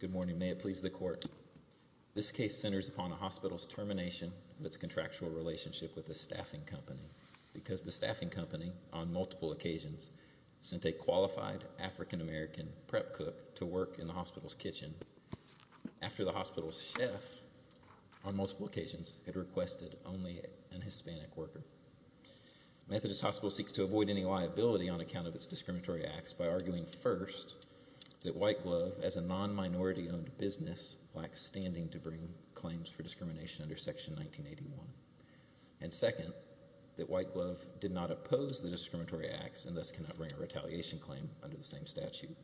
Good morning. May it please the Court. This case centers upon a hospital's termination of its contractual relationship with a staffing company because the staffing company, on multiple occasions, sent a qualified African-American prep cook to work in the hospital's kitchen after the hospital's chef, on multiple occasions, had requested only a Hispanic worker. Methodist Hospitals seeks to avoid any liability on account of its discriminatory acts by arguing, first, that White Glove, as a non-minority-owned business, lacks standing to bring claims for discrimination under Section 1981, and, second, that White Glove did not oppose the discriminatory acts and thus cannot bring a retaliation claim under the same statute.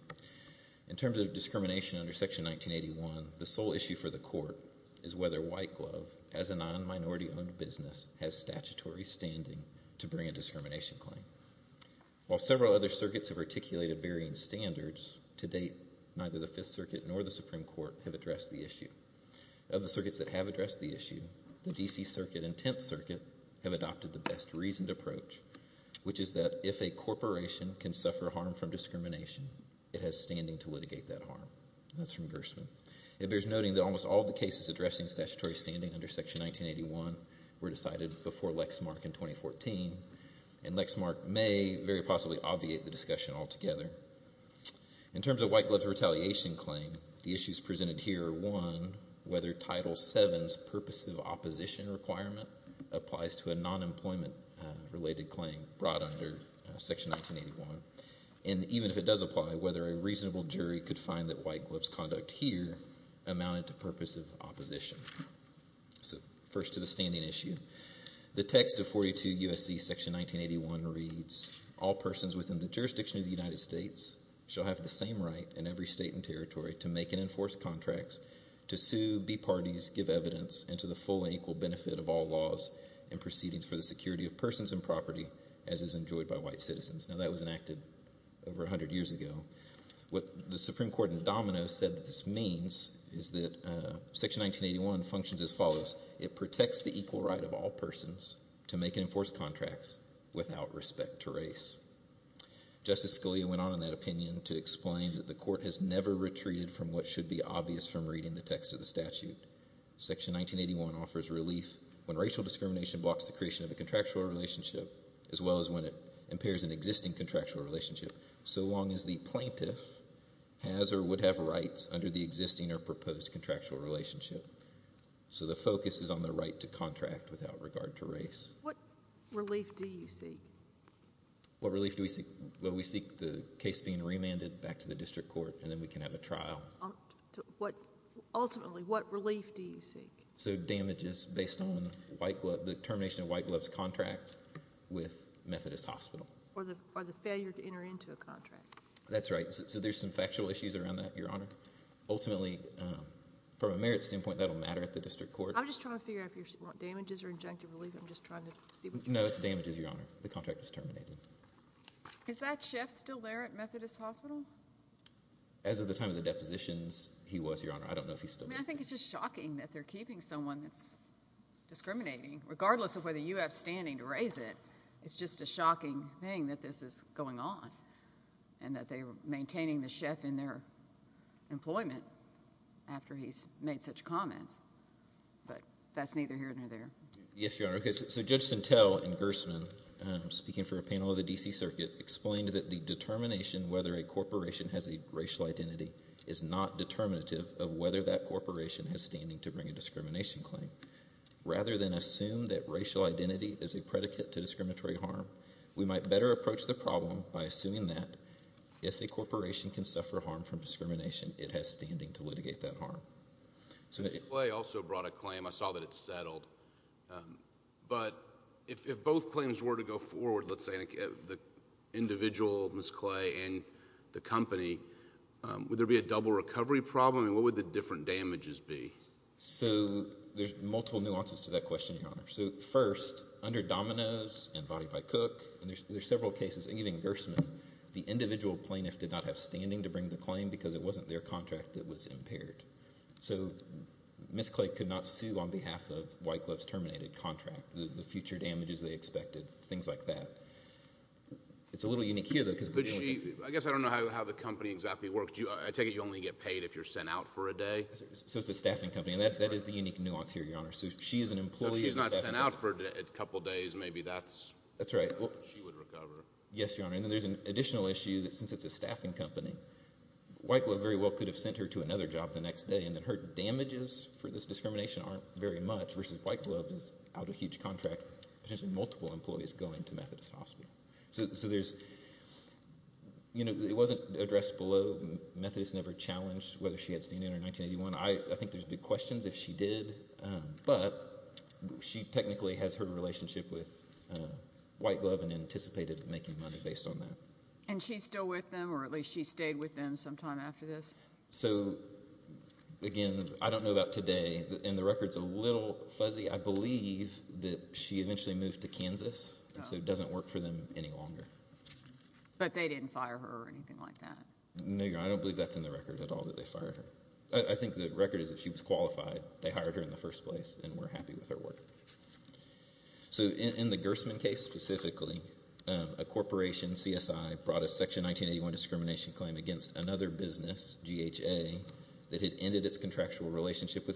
In terms of discrimination under Section 1981, the sole issue for the Court is whether White Glove, as a non-minority-owned business, has statutory standing to bring a discrimination claim. While several other circuits have articulated varying standards, to date, neither the Fifth Circuit nor the Supreme Court have addressed the issue. Of the circuits that have addressed the issue, the D.C. Circuit and Tenth Circuit have adopted the best-reasoned approach, which is that if a corporation can suffer harm from discrimination, it has standing to litigate that harm. That's from Gershwin. It bears noting that almost all of the cases addressing statutory standing under Section 1981 were decided before Lexmark in 2014, and Lexmark may very possibly obviate the discussion altogether. In terms of White Glove's retaliation claim, the issues presented here are, one, whether Title VII's purposive opposition requirement applies to a non-employment-related claim brought under Section 1981, and, even if it does apply, whether a reasonable jury could find that White Glove's conduct here amounted to purposive opposition. First to the standing issue. The text of 42 U.S.C. Section 1981 reads, All persons within the jurisdiction of the United States shall have the same right in every state and territory to make and enforce contracts, to sue, be parties, give evidence, and to the full and equal benefit of all laws and proceedings for the security of persons and property as is enjoyed by White citizens. Now, that was enacted over 100 years ago. What the Supreme Court in Dominoes said that this means is that Section 1981 functions as follows. It protects the equal right of all persons to make and enforce contracts without respect to race. Justice Scalia went on in that opinion to explain that the Court has never retreated from what should be obvious from reading the text of the statute. Section 1981 offers relief when racial discrimination blocks the creation of a contractual relationship as well as when it impairs an existing contractual relationship, so long as the plaintiff has or would have rights under the existing or proposed contractual relationship. So the focus is on the right to contract without regard to race. What relief do you seek? What relief do we seek? Well, we seek the case being remanded back to the district court, and then we can have a trial. Ultimately, what relief do you seek? So damages based on the termination of White Glove's contract with Methodist Hospital. Or the failure to enter into a contract. That's right. So there's some factual issues around that, Your Honor. Ultimately, from a merits standpoint, that will matter at the district court. I'm just trying to figure out if you want damages or injunctive relief. I'm just trying to see what you're saying. No, it's damages, Your Honor. The contract was terminated. Is that chef still there at Methodist Hospital? As of the time of the depositions, he was, Your Honor. I don't know if he's still there. I mean, I think it's just shocking that they're keeping someone that's discriminating, regardless of whether you have standing to raise it. It's just a shocking thing that this is going on, and that they're maintaining the chef in their employment after he's made such comments. But that's neither here nor there. Yes, Your Honor. So Judge Sintel and Gersman, speaking for a panel of the D.C. Circuit, explained that the determination whether a corporation has a racial identity is not determinative of whether that corporation has standing to bring a discrimination claim. Rather than assume that racial identity is a predicate to discriminatory harm, we might better approach the problem by assuming that if a corporation can suffer harm from discrimination, it has standing to litigate that harm. Judge Clay also brought a claim. I saw that it's settled. But if both claims were to go forward, let's say the individual, Ms. Clay, and the company, would there be a double recovery problem, and what would the different damages be? So there's multiple nuances to that question, Your Honor. So first, under Domino's and Body by Cook, and there's several cases, even Gersman, the individual plaintiff did not have standing to bring the claim because it wasn't their contract that was impaired. So Ms. Clay could not sue on behalf of White Glove's terminated contract, the future damages they expected, things like that. It's a little unique here, though. But she, I guess I don't know how the company exactly works. I take it you only get paid if you're sent out for a day? So it's a staffing company, and that is the unique nuance here, Your Honor. So if she's an employee and she's not sent out for a couple days, maybe that's... That's right. She would recover. Yes, Your Honor. And then there's an additional issue that since it's a staffing company, White Glove very well could have sent her to another job the next day, and that her multiple employees go into Methodist Hospital. So there's, you know, it wasn't addressed below. Methodist never challenged whether she had seen it in 1981. I think there's big questions if she did, but she technically has her relationship with White Glove and anticipated making money based on that. And she's still with them, or at least she stayed with them sometime after this? So, again, I don't know about today, and the record's a little fuzzy. I believe that she eventually moved to Kansas, and so it doesn't work for them any longer. But they didn't fire her or anything like that? No, Your Honor. I don't believe that's in the record at all that they fired her. I think the record is that she was qualified. They hired her in the first place and were happy with her work. So in the Gersman case specifically, a corporation, CSI, brought a Section 1981 discrimination claim against another business, GHA, that had ended its contractual relationship with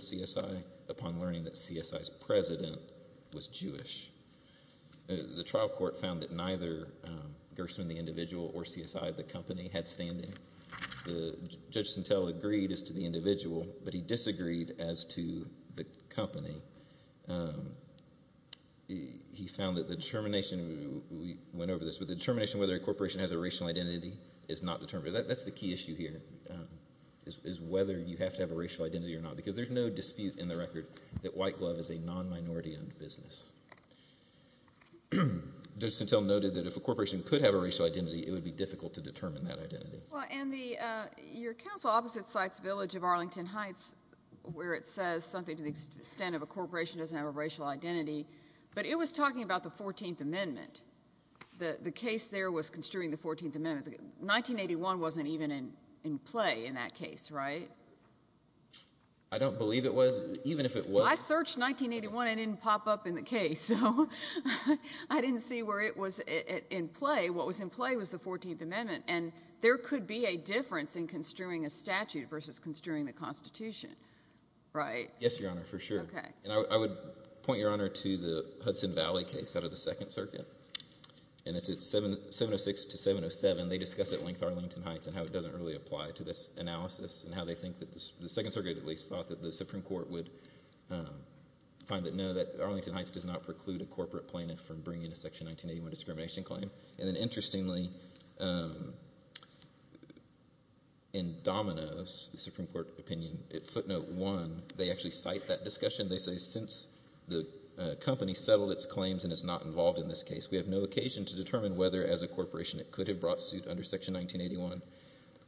The trial court found that neither Gersman, the individual, or CSI, the company, had standing. Judge Sentelle agreed as to the individual, but he disagreed as to the company. He found that the determination, we went over this, but the determination whether a corporation has a racial identity is not determined. That's the key issue here, is whether you have to have a racial identity or not, because there's no dispute in the record that White Glove is a non-minority owned business. Judge Sentelle noted that if a corporation could have a racial identity, it would be difficult to determine that identity. Well, and the, your counsel opposite cites Village of Arlington Heights, where it says something to the extent of a corporation doesn't have a racial identity, but it was talking about the 14th Amendment. The case there was construing the 14th Amendment. 1981 wasn't even in play in that case, right? I don't believe it was, even if it was. Well, I searched 1981 and it didn't pop up in the case, so I didn't see where it was in play. What was in play was the 14th Amendment, and there could be a difference in construing a statute versus construing the Constitution, right? Yes, Your Honor, for sure. Okay. And I would point, Your Honor, to the Hudson Valley case out of the Second Circuit, and it's at 706 to 707. They discuss at length Arlington Heights and how it doesn't really apply to this analysis and how they think that the Second Circuit at least thought that the Supreme Court would find that no, that Arlington Heights does not preclude a corporate plaintiff from bringing a Section 1981 discrimination claim. And then interestingly, in Domino's Supreme Court opinion, at footnote one, they actually cite that discussion. They say, since the company settled its claims and is not involved in this case, we have no occasion to determine whether as a corporation it could have brought suit under Section 1981.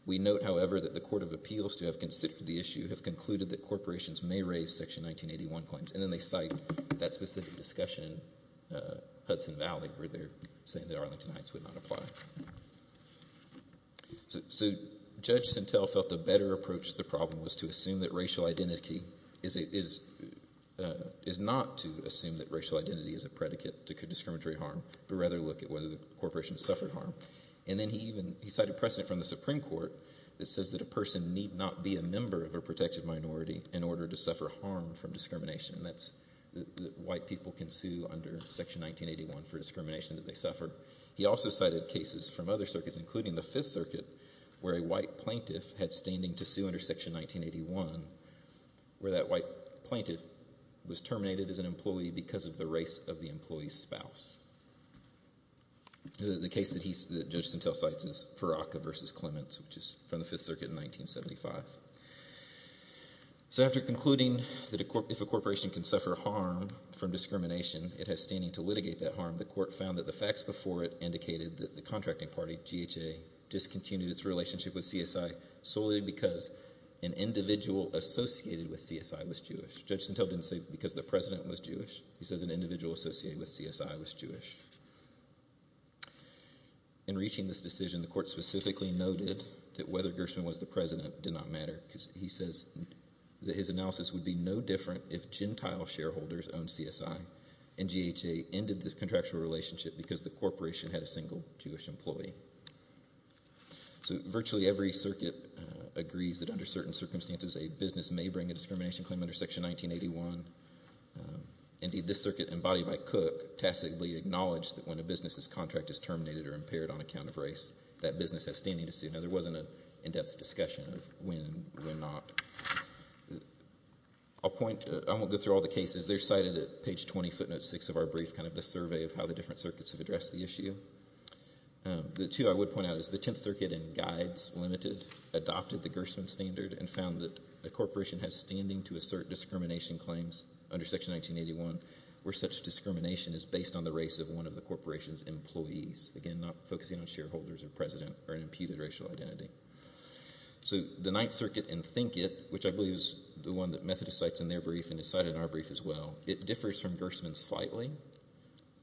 We note, however, that the Court of Appeals to have considered the issue have concluded that corporations may raise Section 1981 claims. And then they cite that specific discussion in Hudson Valley where they're saying that Arlington Heights would not apply. So Judge Sintel felt the better approach to the problem was to assume that racial identity is not to assume that racial identity is a predicate to discriminatory harm, but rather look at whether the corporation suffered harm. And then he cited precedent from the Supreme Court that says that a person need not be a member of a protected minority in order to suffer harm from discrimination. That's that white people can sue under Section 1981 for discrimination that they suffered. He also cited cases from other circuits, including the Fifth Circuit, where a white plaintiff had standing to sue under Section 1981, where that white plaintiff was terminated as an employee because of the race of the employee's The case that Judge Sintel cites is Paraka v. Clements, which is from the Fifth Circuit in 1975. So after concluding that if a corporation can suffer harm from discrimination, it has standing to litigate that harm, the Court found that the facts before it indicated that the contracting party, GHA, discontinued its relationship with CSI solely because an individual associated with CSI was Jewish. Judge Sintel didn't say because the president was Jewish. He says an individual associated with CSI was Jewish. In reaching this decision, the Court specifically noted that whether Gershman was the president did not matter because he says that his analysis would be no different if Gentile shareholders owned CSI and GHA ended the contractual relationship because the corporation had a single Jewish employee. So virtually every circuit agrees that under certain circumstances a business may bring a discrimination claim under Section 1981. Indeed, this circuit, embodied by Cook, tacitly acknowledged that when a business's contract is terminated or impaired on account of race, that business has standing to sue. Now, there wasn't an in-depth discussion of when not. I won't go through all the cases. They're cited at page 20, footnote 6 of our brief, kind of the survey of how the different circuits have addressed the issue. The two I would point out is the Tenth Circuit and Guides Ltd. adopted the Gershman standard and found that a corporation has standing to assert discrimination claims under Section 1981 where such discrimination is based on the race of one of the corporation's employees. Again, not focusing on shareholders or president or an imputed racial identity. So the Ninth Circuit and Thinkit, which I believe is the one that Methodist cites in their brief and is cited in our brief as well, it differs from Gershman slightly.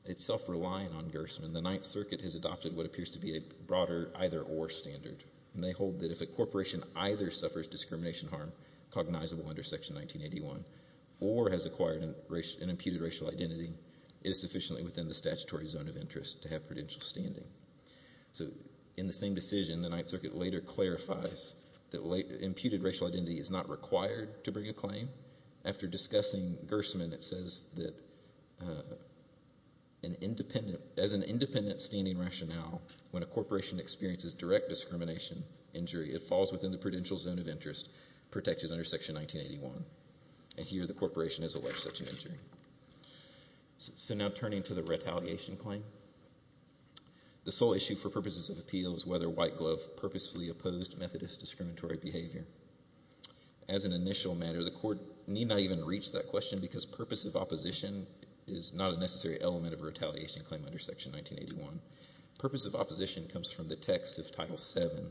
It's self-reliant on Gershman. The Ninth Circuit has adopted what appears to be a broader either-or standard. They hold that if a corporation either suffers discrimination harm, cognizable under Section 1981, or has acquired an imputed racial identity, it is sufficiently within the statutory zone of interest to have prudential standing. So in the same decision, the Ninth Circuit later clarifies that imputed racial identity is not required to bring a claim. After discussing Gershman, it says that as an independent standing rationale, when a corporation experiences direct discrimination injury, it falls within the prudential zone of interest protected under Section 1981. And here the corporation has alleged such an injury. So now turning to the retaliation claim. The sole issue for purposes of appeal is whether White Glove purposefully opposed Methodist discriminatory behavior. As an initial matter, the court need not even reach that question because purpose of opposition is not a necessary element of a retaliation claim under Section 1981. Purpose of opposition comes from the text of Title VII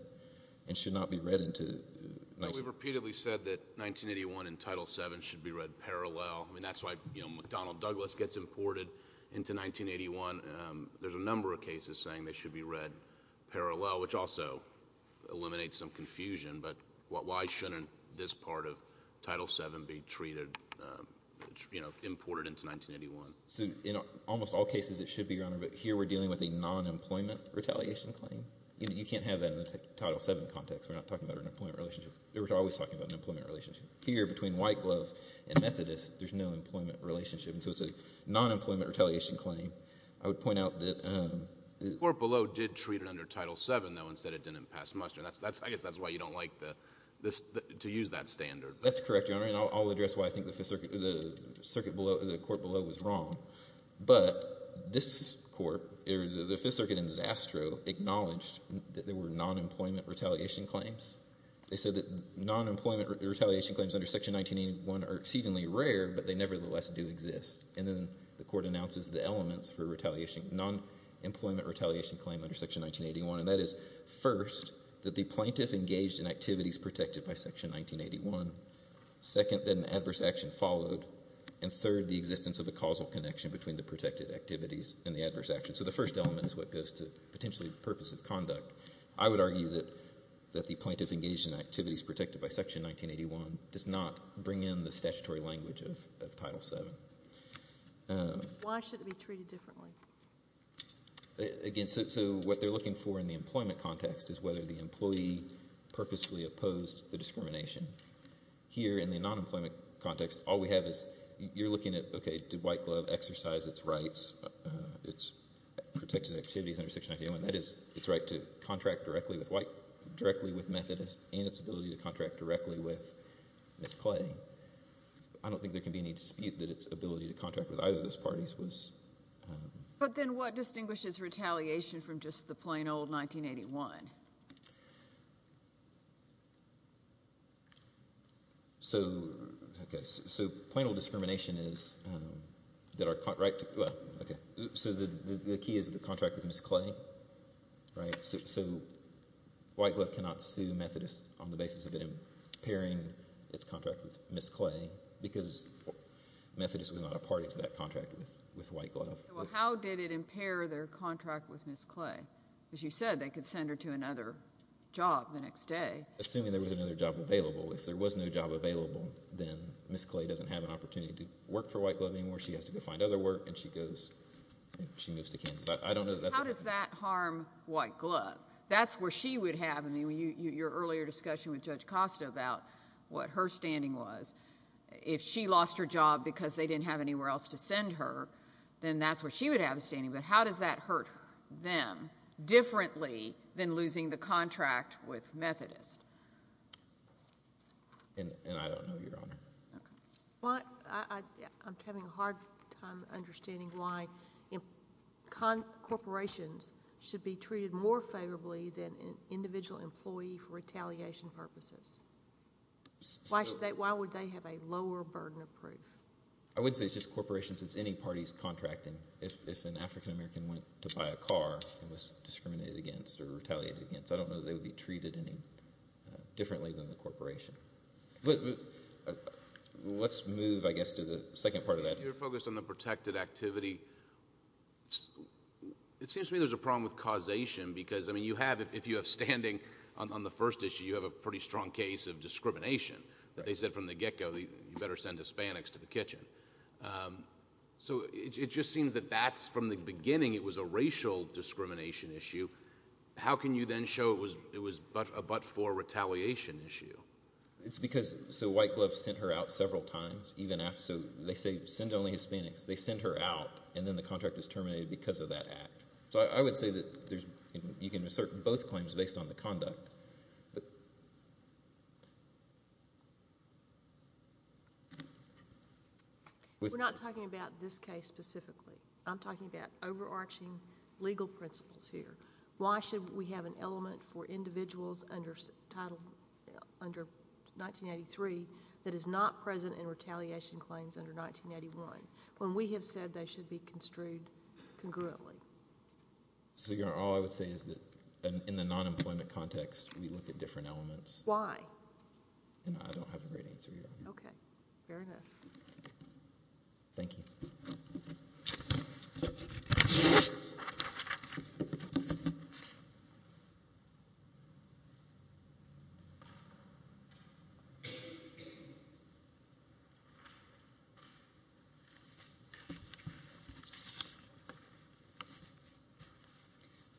and should not be read into 1981. We've repeatedly said that 1981 and Title VII should be read parallel. I mean, that's why, you know, McDonnell Douglas gets imported into 1981. There's a number of cases saying they should be read parallel, which also eliminates some confusion. But why shouldn't this part of Title VII be treated, you know, imported into 1981? So in almost all cases it should be, Your Honor. But here we're dealing with a non-employment retaliation claim. You can't have that in the Title VII context. We're not talking about an employment relationship. We're always talking about an employment relationship. Here between White Glove and Methodist, there's no employment relationship. And so it's a non-employment retaliation claim. I would point out that— The court below did treat it under Title VII, though, and said it didn't pass muster. I guess that's why you don't like to use that standard. That's correct, Your Honor. And I'll address why I think the court below was wrong. But this court, the Fifth Circuit in Zastrow, acknowledged that there were non-employment retaliation claims. They said that non-employment retaliation claims under Section 1981 are exceedingly rare, but they nevertheless do exist. And then the court announces the elements for a non-employment retaliation claim under Section 1981. And that is, first, that the plaintiff engaged in activities protected by Section 1981. Second, that an adverse action followed. And third, the existence of a causal connection between the protected activities and the adverse action. So the first element is what goes to potentially the purpose of conduct. I would argue that the plaintiff engaged in activities protected by Section 1981 does not bring in the statutory language of Title VII. Why should it be treated differently? Again, so what they're looking for in the employment context is whether the employee purposefully opposed the discrimination. Here in the non-employment context, all we have is you're looking at, okay, did White Glove exercise its rights, its protected activities under Section 1981, that is, its right to contract directly with Methodist and its ability to contract directly with Ms. Clay. I don't think there can be any dispute that its ability to contract with either of those parties was— But then what distinguishes retaliation from just the plain old 1981? So, okay, so plain old discrimination is that our—well, okay. So the key is the contract with Ms. Clay, right? So White Glove cannot sue Methodist on the basis of it impairing its contract with Ms. Clay because Methodist was not a party to that contract with White Glove. Well, how did it impair their contract with Ms. Clay? Because you said they could send her to another job the next day. Assuming there was another job available. If there was no job available, then Ms. Clay doesn't have an opportunity to work for White Glove anymore. She has to go find other work, and she goes—she moves to Kansas. I don't know that that's— How does that harm White Glove? That's where she would have—in your earlier discussion with Judge Costa about what her standing was. If she lost her job because they didn't have anywhere else to send her, then that's where she would have a standing. But how does that hurt them differently than losing the contract with Methodist? And I don't know, Your Honor. I'm having a hard time understanding why corporations should be treated more favorably than an individual employee for retaliation purposes. Why would they have a lower burden of proof? I would say it's just corporations. It's any party's contracting. If an African American went to buy a car and was discriminated against or retaliated against, I don't know that they would be treated any differently than the corporation. Let's move, I guess, to the second part of that. Your focus on the protected activity. It seems to me there's a problem with causation because, I mean, you have— if you have standing on the first issue, you have a pretty strong case of discrimination. They said from the get-go, you better send Hispanics to the kitchen. So it just seems that that's—from the beginning, it was a racial discrimination issue. How can you then show it was a but-for retaliation issue? It's because—so White Glove sent her out several times, even after—so they say send only Hispanics. They send her out, and then the contract is terminated because of that act. So I would say that there's—you can assert both claims based on the conduct. We're not talking about this case specifically. I'm talking about overarching legal principles here. Why should we have an element for individuals under 1983 that is not present in retaliation claims under 1981, when we have said they should be construed congruently? All I would say is that in the nonemployment context, we look at different elements. Why? I don't have a great answer here. Okay. Fair enough. Thank you. Thank you.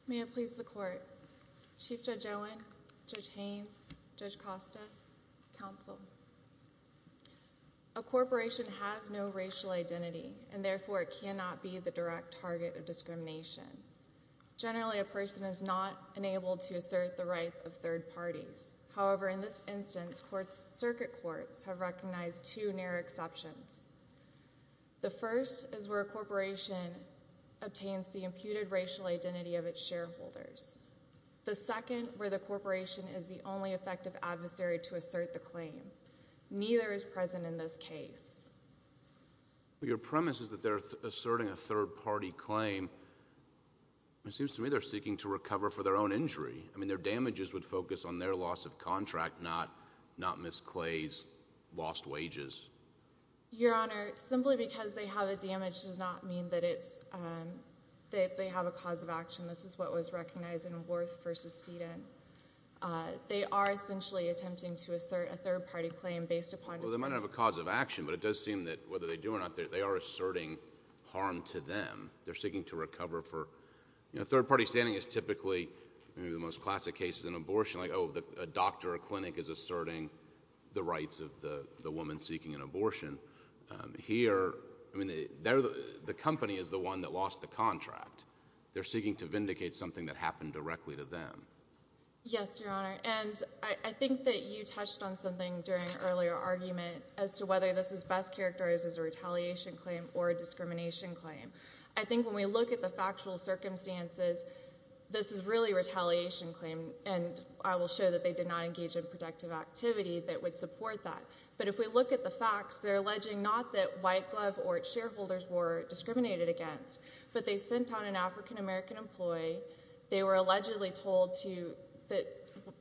May it please the Court. Chief Judge Owen, Judge Haynes, Judge Costa, Counsel. A corporation has no racial identity, and therefore it cannot be the direct target of discrimination. Generally, a person is not enabled to assert the rights of third parties. However, in this instance, circuit courts have recognized two near exceptions. The first is where a corporation obtains the imputed racial identity of its shareholders. The second, where the corporation is the only effective adversary to assert the claim. Neither is present in this case. Your premise is that they're asserting a third-party claim. It seems to me they're seeking to recover for their own injury. I mean, their damages would focus on their loss of contract, not Ms. Clay's lost wages. Your Honor, simply because they have a damage does not mean that they have a cause of action. This is what was recognized in Worth v. Sedan. They are essentially attempting to assert a third-party claim based upon— So they might not have a cause of action, but it does seem that whether they do or not, they are asserting harm to them. They're seeking to recover for— You know, third-party standing is typically—the most classic case is an abortion. Like, oh, a doctor or clinic is asserting the rights of the woman seeking an abortion. Here, I mean, the company is the one that lost the contract. They're seeking to vindicate something that happened directly to them. Yes, Your Honor. And I think that you touched on something during an earlier argument as to whether this best characterizes a retaliation claim or a discrimination claim. I think when we look at the factual circumstances, this is really a retaliation claim, and I will show that they did not engage in productive activity that would support that. But if we look at the facts, they're alleging not that White Glove or its shareholders were discriminated against, but they sent on an African-American employee. They were allegedly told that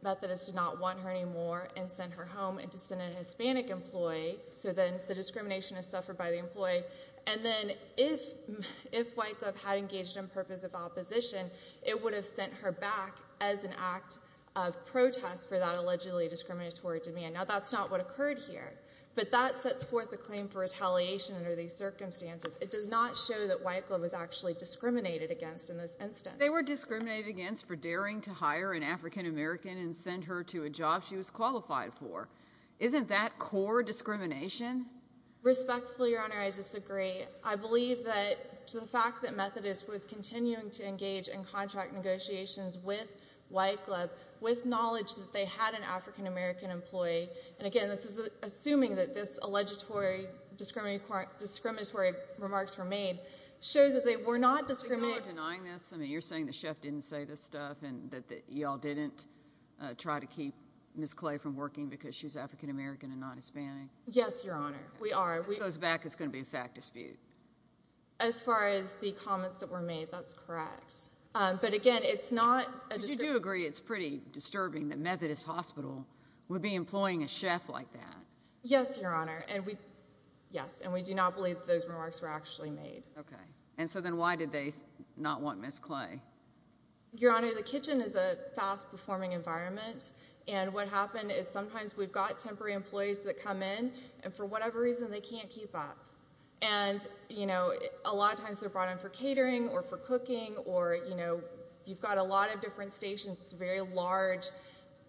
Methodists did not want her anymore and sent her home and to send a Hispanic employee, so then the discrimination is suffered by the employee. And then if White Glove had engaged in purposive opposition, it would have sent her back as an act of protest for that allegedly discriminatory demand. Now, that's not what occurred here, but that sets forth a claim for retaliation under these circumstances. It does not show that White Glove was actually discriminated against in this instance. But they were discriminated against for daring to hire an African-American and send her to a job she was qualified for. Isn't that core discrimination? Respectfully, Your Honor, I disagree. I believe that the fact that Methodists were continuing to engage in contract negotiations with White Glove, with knowledge that they had an African-American employee, and again, this is assuming that this alleged discriminatory remarks were made, shows that they were not discriminated against. So you are denying this? I mean, you're saying the chef didn't say this stuff and that you all didn't try to keep Ms. Clay from working because she's African-American and not Hispanic? Yes, Your Honor, we are. This goes back, it's going to be a fact dispute. As far as the comments that were made, that's correct. But again, it's not a discrimination. But you do agree it's pretty disturbing that Methodist Hospital would be employing a chef like that? Yes, Your Honor, and we do not believe that those remarks were actually made. Okay, and so then why did they not want Ms. Clay? Your Honor, the kitchen is a fast-performing environment, and what happened is sometimes we've got temporary employees that come in, and for whatever reason they can't keep up. And, you know, a lot of times they're brought in for catering or for cooking or, you know, you've got a lot of different stations. It's a very large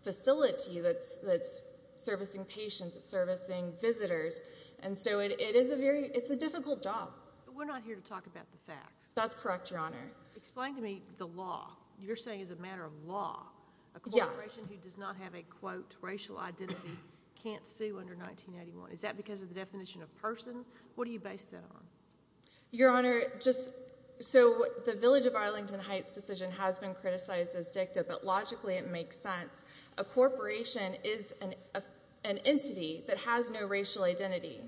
facility that's servicing patients, it's servicing visitors, and so it is a very, it's a difficult job. But we're not here to talk about the facts. That's correct, Your Honor. Explain to me the law. You're saying it's a matter of law. Yes. A corporation who does not have a, quote, racial identity can't sue under 1981. Is that because of the definition of person? What do you base that on? Your Honor, just so the Village of Arlington Heights decision has been criticized as dicta, but logically it makes sense. A corporation is an entity that has no racial identity.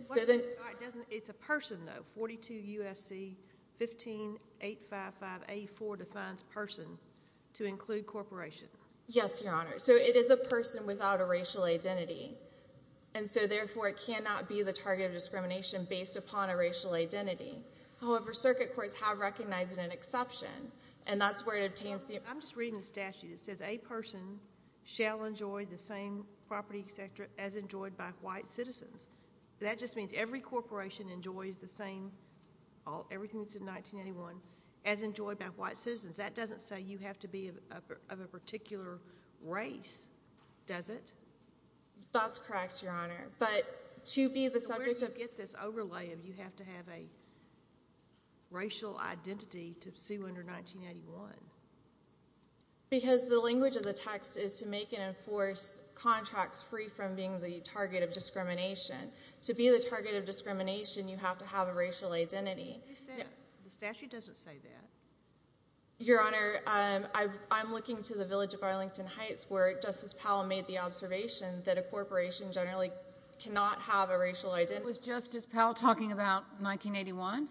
It's a person, though. 42 U.S.C. 15855A4 defines person to include corporation. Yes, Your Honor. So it is a person without a racial identity, and so therefore it cannot be the target of discrimination based upon a racial identity. However, circuit courts have recognized it an exception, and that's where it obtains the— I'm just reading the statute. It says a person shall enjoy the same property as enjoyed by white citizens. That just means every corporation enjoys the same, everything that's in 1981, as enjoyed by white citizens. That doesn't say you have to be of a particular race, does it? That's correct, Your Honor. But to be the subject of— Where do you get this overlay of you have to have a racial identity to sue under 1981? Because the language of the text is to make and enforce contracts free from being the target of discrimination. To be the target of discrimination, you have to have a racial identity. It makes sense. The statute doesn't say that. Your Honor, I'm looking to the Village of Arlington Heights where Justice Powell made the observation that a corporation generally cannot have a racial identity. Was Justice Powell talking about 1981?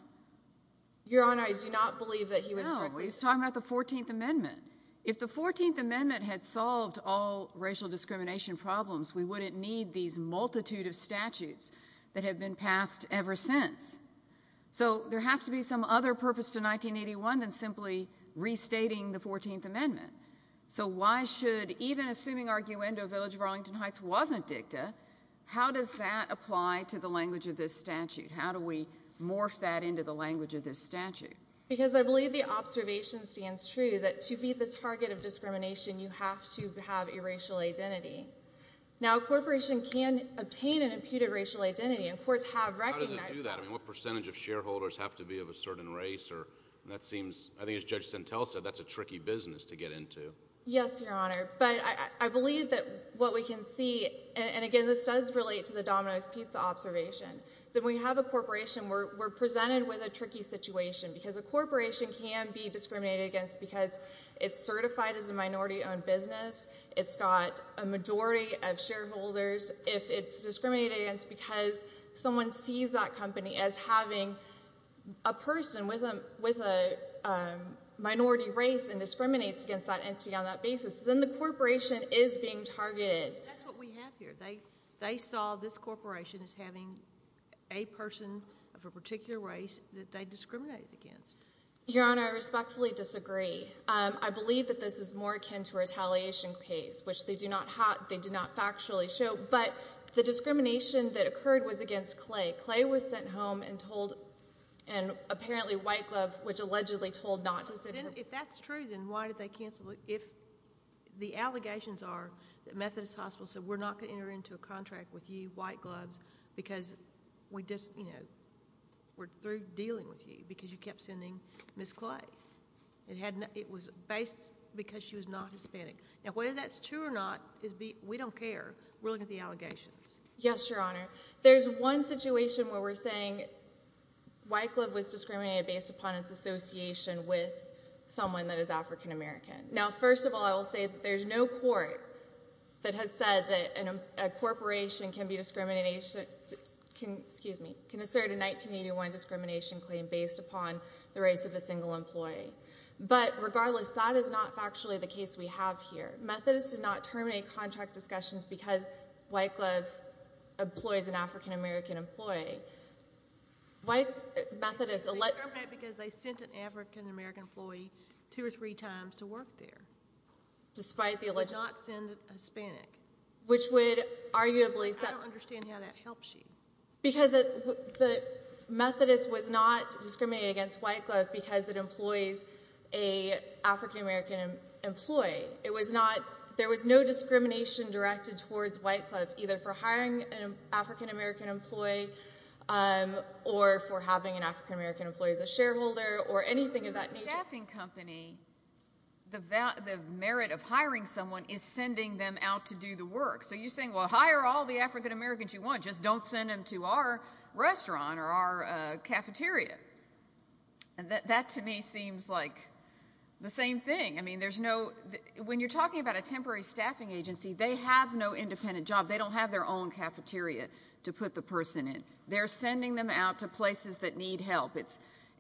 Your Honor, I do not believe that he was— No, he was talking about the 14th Amendment. If the 14th Amendment had solved all racial discrimination problems, we wouldn't need these multitude of statutes that have been passed ever since. So there has to be some other purpose to 1981 than simply restating the 14th Amendment. So why should—even assuming Arguendo Village of Arlington Heights wasn't dicta, how does that apply to the language of this statute? How do we morph that into the language of this statute? Because I believe the observation stands true that to be the target of discrimination, you have to have a racial identity. Now, a corporation can obtain an imputed racial identity. And courts have recognized that. How does it do that? I mean, what percentage of shareholders have to be of a certain race? And that seems—I think as Judge Sentelle said, that's a tricky business to get into. Yes, Your Honor. But I believe that what we can see—and again, this does relate to the Domino's Pizza observation. When we have a corporation, we're presented with a tricky situation because a corporation can be discriminated against because it's certified as a minority-owned business, it's got a majority of shareholders. If it's discriminated against because someone sees that company as having a person with a minority race and discriminates against that entity on that basis, then the corporation is being targeted. That's what we have here. They saw this corporation as having a person of a particular race that they discriminated against. Your Honor, I respectfully disagree. I believe that this is more akin to a retaliation case, which they do not factually show. But the discrimination that occurred was against Clay. Clay was sent home and told—and apparently White Glove, which allegedly told not to send him— If that's true, then why did they cancel it? The allegations are that Methodist Hospital said, we're not going to enter into a contract with you, White Glove, because we're through dealing with you because you kept sending Ms. Clay. It was based because she was not Hispanic. Whether that's true or not, we don't care. We're looking at the allegations. Yes, Your Honor. There's one situation where we're saying White Glove was discriminated based upon its association with someone that is African American. Now, first of all, I will say that there's no court that has said that a corporation can assert a 1981 discrimination claim based upon the race of a single employee. But regardless, that is not factually the case we have here. Methodist did not terminate contract discussions because White Glove employs an African American employee. White Methodist— They didn't discriminate because they sent an African American employee two or three times to work there. Despite the alle— They did not send a Hispanic. Which would arguably— I don't understand how that helps you. Because the Methodist was not discriminated against White Glove because it employs an African American employee. It was not—there was no discrimination directed towards White Glove, either for hiring an African American employee or for having an African American employee as a shareholder or anything of that nature. The staffing company, the merit of hiring someone is sending them out to do the work. So you're saying, well, hire all the African Americans you want. Just don't send them to our restaurant or our cafeteria. That to me seems like the same thing. I mean, there's no—when you're talking about a temporary staffing agency, they have no independent job. They don't have their own cafeteria to put the person in. They're sending them out to places that need help.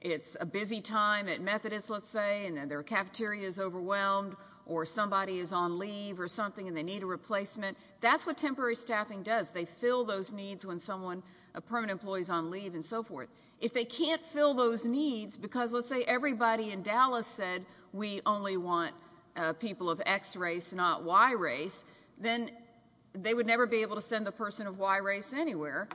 It's a busy time at Methodist, let's say, and their cafeteria is overwhelmed or somebody is on leave or something and they need a replacement. That's what temporary staffing does. They fill those needs when someone—a permanent employee is on leave and so forth. If they can't fill those needs because, let's say, everybody in Dallas said we only want people of X race, not Y race, then they would never be able to send the person of Y race anywhere.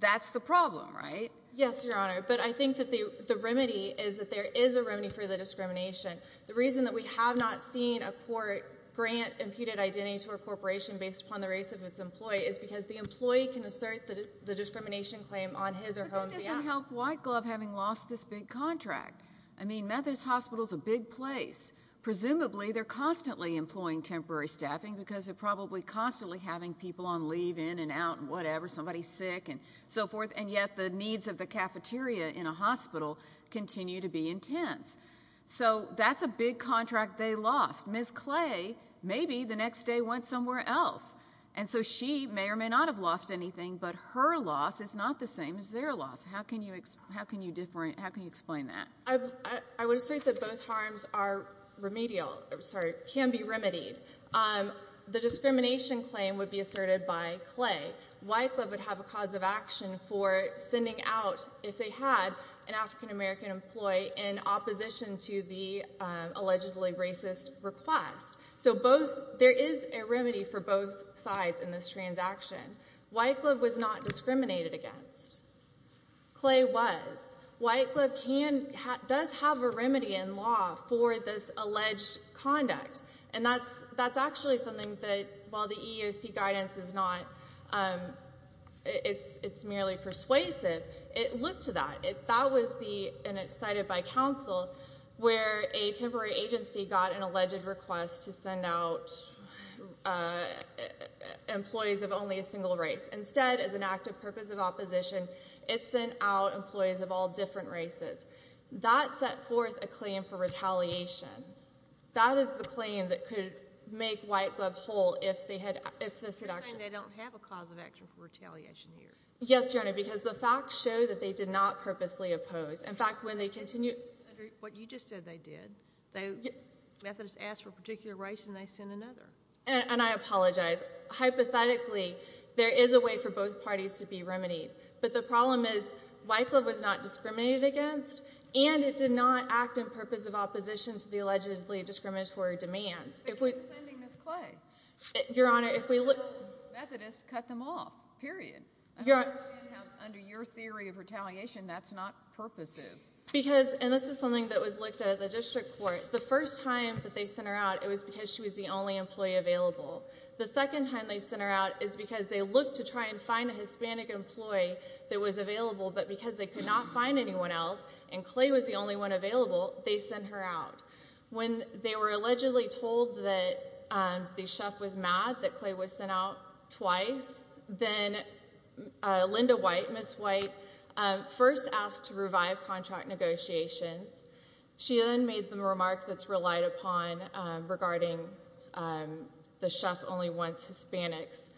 That's the problem, right? Yes, Your Honor, but I think that the remedy is that there is a remedy for the discrimination. The reason that we have not seen a court grant imputed identity to a corporation based upon the race of its employee is because the employee can assert the discrimination claim on his or her behalf. But couldn't this have helped White Glove having lost this big contract? I mean, Methodist Hospital is a big place. Presumably, they're constantly employing temporary staffing because they're probably constantly having people on leave in and out and whatever, somebody's sick and so forth, and yet the needs of the cafeteria in a hospital continue to be intense. So that's a big contract they lost. Ms. Clay, maybe the next day went somewhere else. And so she may or may not have lost anything, but her loss is not the same as their loss. How can you explain that? I would assert that both harms are remedial or, sorry, can be remedied. The discrimination claim would be asserted by Clay. White Glove would have a cause of action for sending out, if they had, an African American employee in opposition to the allegedly racist request. So there is a remedy for both sides in this transaction. White Glove was not discriminated against. Clay was. White Glove does have a remedy in law for this alleged conduct. And that's actually something that, while the EEOC guidance is not, it's merely persuasive, it looked to that. That was the, and it's cited by counsel, where a temporary agency got an alleged request to send out employees of only a single race. Instead, as an act of purpose of opposition, it sent out employees of all different races. That set forth a claim for retaliation. That is the claim that could make White Glove whole if they had, if the seduction. You're saying they don't have a cause of action for retaliation here. Yes, Your Honor, because the facts show that they did not purposely oppose. In fact, when they continue. What you just said they did. Methodists asked for a particular race and they sent another. And I apologize. Hypothetically, there is a way for both parties to be remedied. But the problem is White Glove was not discriminated against, and it did not act in purpose of opposition to the allegedly discriminatory demands. But you're sending Ms. Clay. Your Honor, if we look. Methodists cut them off, period. Under your theory of retaliation, that's not purposive. Because, and this is something that was looked at at the district court. The first time that they sent her out, it was because she was the only employee available. The second time they sent her out is because they looked to try and find a Hispanic employee that was available, but because they could not find anyone else, and Clay was the only one available, they sent her out. When they were allegedly told that the chef was mad that Clay was sent out twice, then Linda White, Ms. White, first asked to revive contract negotiations. She then made the remark that's relied upon regarding the chef only wants Hispanics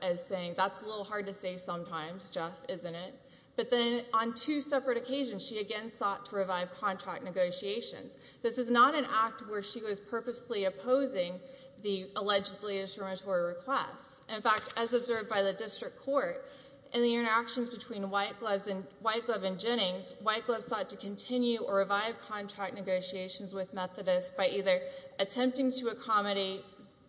as saying that's a little hard to say sometimes, Jeff, isn't it? But then on two separate occasions, she again sought to revive contract negotiations. This is not an act where she was purposely opposing the allegedly discriminatory requests. In fact, as observed by the district court, in the interactions between White Glove and Jennings, White Glove sought to continue or revive contract negotiations with Methodists by either attempting to accommodate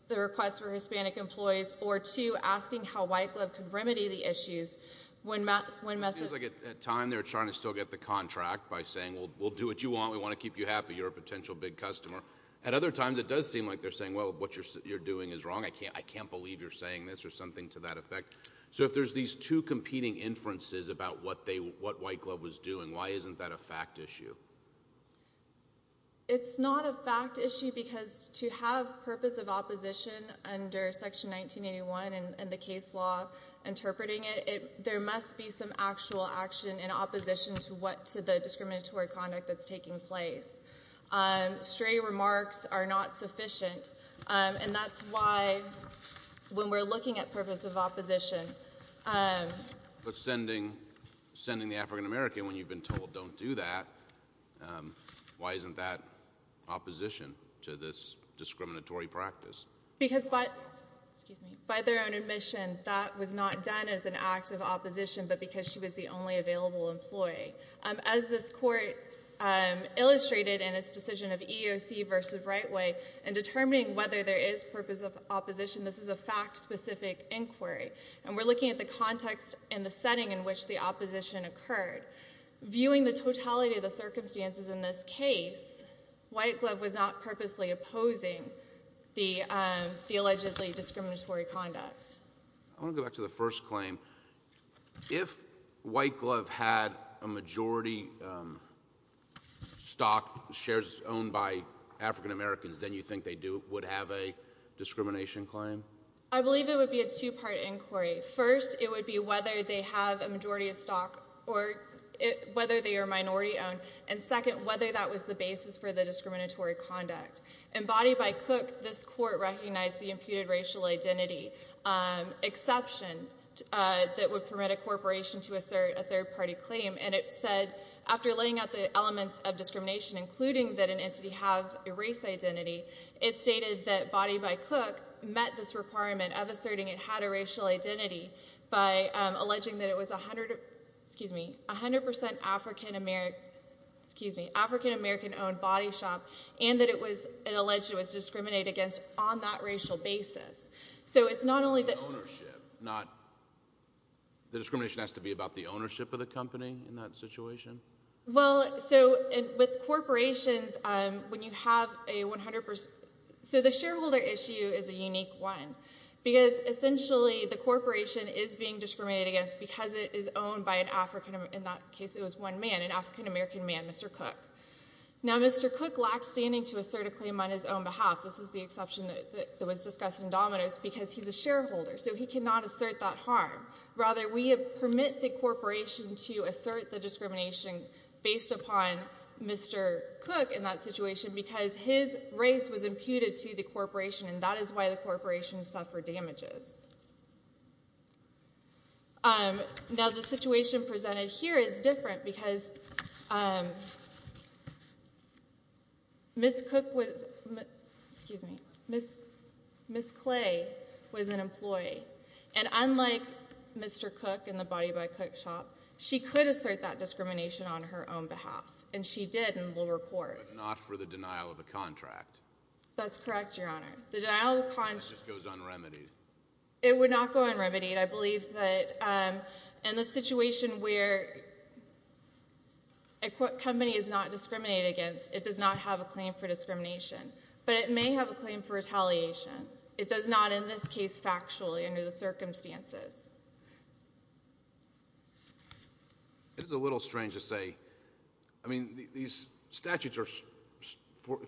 the request for Hispanic employees or two, asking how White Glove could remedy the issues when Methodists... It seems like at times they're trying to still get the contract by saying we'll do what you want, we want to keep you happy, you're a potential big customer. At other times it does seem like they're saying, well, what you're doing is wrong. I can't believe you're saying this or something to that effect. So if there's these two competing inferences about what White Glove was doing, why isn't that a fact issue? It's not a fact issue because to have purpose of opposition under Section 1981 and the case law interpreting it, there must be some actual action in opposition to what, to the discriminatory conduct that's taking place. Stray remarks are not sufficient, and that's why when we're looking at purpose of opposition... But sending the African American when you've been told don't do that, why isn't that opposition to this discriminatory practice? Because by their own admission, that was not done as an act of opposition, but because she was the only available employee. As this court illustrated in its decision of EEOC versus Rightway, in determining whether there is purpose of opposition, this is a fact-specific inquiry. And we're looking at the context and the setting in which the opposition occurred. Viewing the totality of the circumstances in this case, White Glove was not purposely opposing the allegedly discriminatory conduct. I want to go back to the first claim. If White Glove had a majority stock, shares owned by African Americans, then you think they would have a discrimination claim? I believe it would be a two-part inquiry. First, it would be whether they have a majority of stock or whether they are minority owned. And second, whether that was the basis for the discriminatory conduct. In Body by Cook, this court recognized the imputed racial identity exception that would permit a corporation to assert a third-party claim. And it said, after laying out the elements of discrimination, including that an entity have a race identity, it stated that Body by Cook met this requirement of asserting it had a racial identity by alleging that it was 100% African American-owned body shop and that it was alleged it was discriminated against on that racial basis. So it's not only the ownership. The discrimination has to be about the ownership of the company in that situation? Well, so with corporations, when you have a 100% – so the shareholder issue is a unique one because essentially the corporation is being discriminated against because it is owned by an African – in that case it was one man, an African American man, Mr. Cook. Now Mr. Cook lacks standing to assert a claim on his own behalf. This is the exception that was discussed in Domino's because he's a shareholder, so he cannot assert that harm. Rather, we permit the corporation to assert the discrimination based upon Mr. Cook in that situation because his race was imputed to the corporation and that is why the corporation suffered damages. Now the situation presented here is different because Ms. Clay was an employee, and unlike Mr. Cook in the Body by Cook shop, she could assert that discrimination on her own behalf, and she did in the lower court. But not for the denial of the contract? That's correct, Your Honor. The denial of the contract – That just goes un-remedied. It would not go un-remedied. I believe that in the situation where a company is not discriminated against, it does not have a claim for discrimination, but it may have a claim for retaliation. It does not in this case factually under the circumstances. It is a little strange to say – I mean these statutes are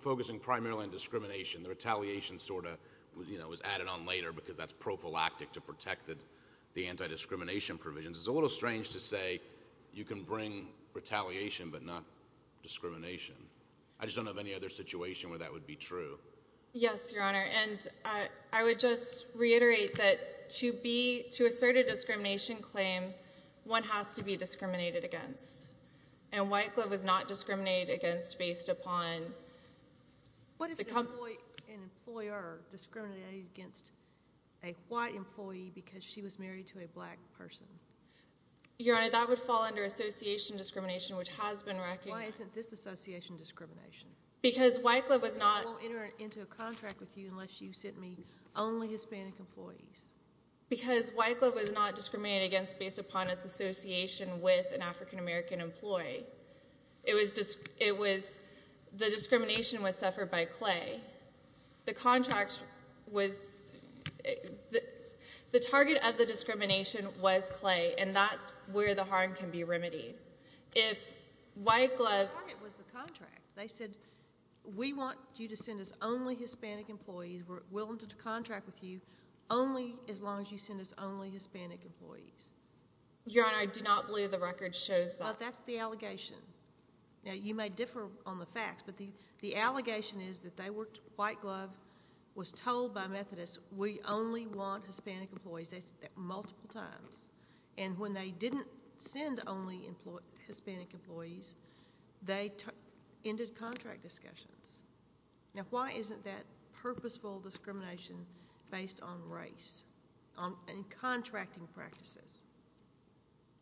focusing primarily on discrimination. The retaliation sort of was added on later because that's prophylactic to protect the anti-discrimination provisions. It's a little strange to say you can bring retaliation but not discrimination. I just don't know of any other situation where that would be true. Yes, Your Honor. And I would just reiterate that to assert a discrimination claim, one has to be discriminated against. And White Glove was not discriminated against based upon the company. Why would an employer discriminate against a white employee because she was married to a black person? Your Honor, that would fall under association discrimination, which has been recognized. Why isn't this association discrimination? Because White Glove was not – Because I won't enter into a contract with you unless you send me only Hispanic employees. Because White Glove was not discriminated against based upon its association with an African-American employee. The discrimination was suffered by Clay. The contract was – the target of the discrimination was Clay, and that's where the harm can be remedied. If White Glove – The target was the contract. They said we want you to send us only Hispanic employees. We're willing to contract with you only as long as you send us only Hispanic employees. Your Honor, I do not believe the record shows that. That's the allegation. Now, you may differ on the facts, but the allegation is that they were – White Glove was told by Methodists, we only want Hispanic employees. They said that multiple times. And when they didn't send only Hispanic employees, they ended contract discussions. Now, why isn't that purposeful discrimination based on race and contracting practices?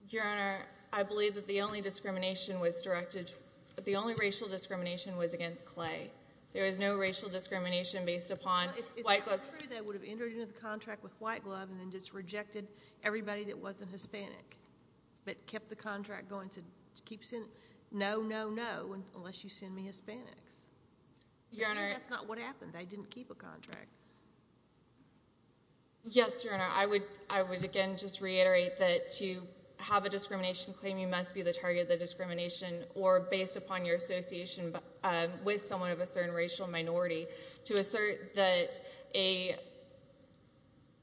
Your Honor, I believe that the only discrimination was directed – the only racial discrimination was against Clay. There is no racial discrimination based upon White Glove's – If I were you, though, I would have entered into the contract with White Glove and then just rejected everybody that wasn't Hispanic, but kept the contract going, said, no, no, no, unless you send me Hispanics. Your Honor – I didn't keep a contract. Yes, Your Honor. Your Honor, I would, again, just reiterate that to have a discrimination claim, you must be the target of the discrimination, or based upon your association with someone of a certain racial minority, to assert that a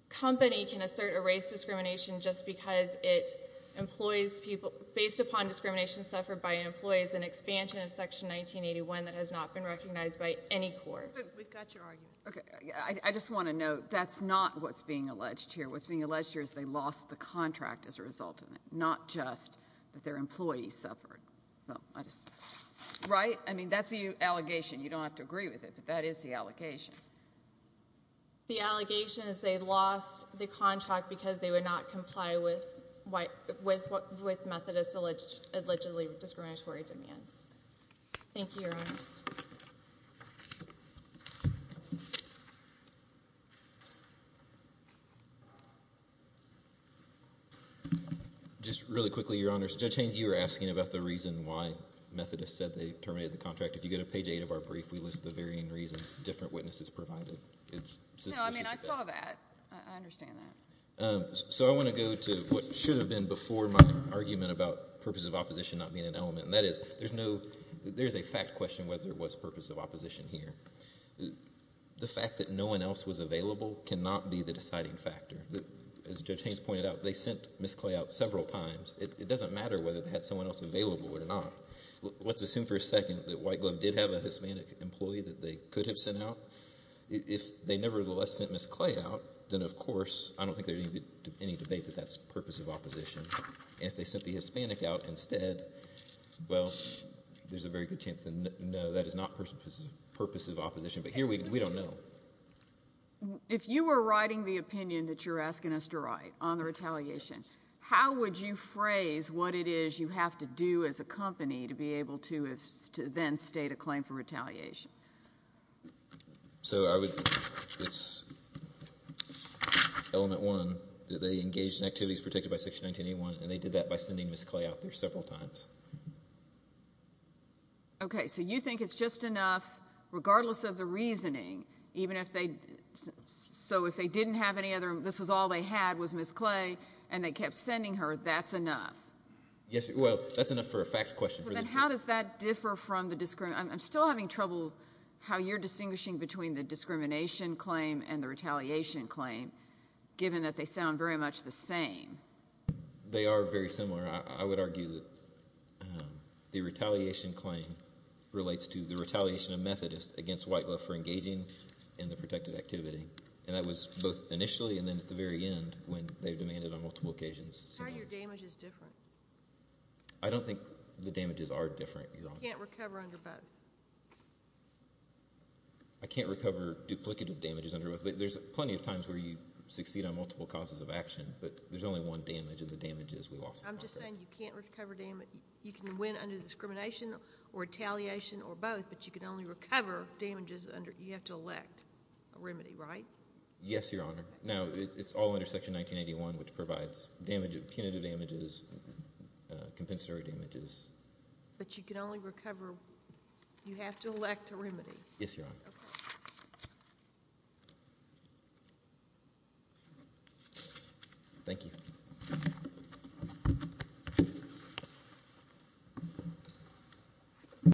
company can assert a race discrimination just because it employs people – based upon discrimination suffered by an employee is an expansion of Section 1981 that has not been recognized by any court. We've got your argument. Okay. I just want to note that's not what's being alleged here. What's being alleged here is they lost the contract as a result of it, not just that their employees suffered. Right? I mean, that's the allegation. You don't have to agree with it, but that is the allegation. The allegation is they lost the contract Thank you, Your Honors. Thank you. Just really quickly, Your Honors, Judge Haynes, you were asking about the reason why Methodists said they terminated the contract. If you go to page 8 of our brief, we list the varying reasons different witnesses provided. No, I mean, I saw that. I understand that. So I want to go to what should have been before my argument about purposes of opposition not being an element, and that is there's a fact question whether it was purpose of opposition here. The fact that no one else was available cannot be the deciding factor. As Judge Haynes pointed out, they sent Ms. Clay out several times. It doesn't matter whether they had someone else available or not. Let's assume for a second that White Glove did have a Hispanic employee that they could have sent out. If they nevertheless sent Ms. Clay out, then, of course, I don't think there's any debate that that's purpose of opposition. If they sent the Hispanic out instead, well, there's a very good chance to know that is not purpose of opposition, but here we don't know. If you were writing the opinion that you're asking us to write on the retaliation, how would you phrase what it is you have to do as a company to be able to then state a claim for retaliation? So I would, it's element one, that they engaged in activities protected by Section 1981, and they did that by sending Ms. Clay out there several times. Okay, so you think it's just enough, regardless of the reasoning, even if they, so if they didn't have any other, this was all they had was Ms. Clay, and they kept sending her, that's enough? Yes, well, that's enough for a fact question. Then how does that differ from the, I'm still having trouble how you're distinguishing between the discrimination claim and the retaliation claim, given that they sound very much the same. They are very similar. I would argue that the retaliation claim relates to the retaliation of Methodists against white love for engaging in the protected activity, and that was both initially and then at the very end when they demanded on multiple occasions. How are your damages different? I don't think the damages are different. You can't recover under bed. I can't recover duplicative damages under bed. There's plenty of times where you succeed on multiple causes of action, but there's only one damage, and the damage is we lost the contract. I'm just saying you can't recover damage. You can win under discrimination or retaliation or both, but you can only recover damages under, you have to elect a remedy, right? Yes, Your Honor. Now, it's all under Section 1981, which provides damage, punitive damages, compensatory damages. But you can only recover, you have to elect a remedy? Yes, Your Honor. Okay. Thank you.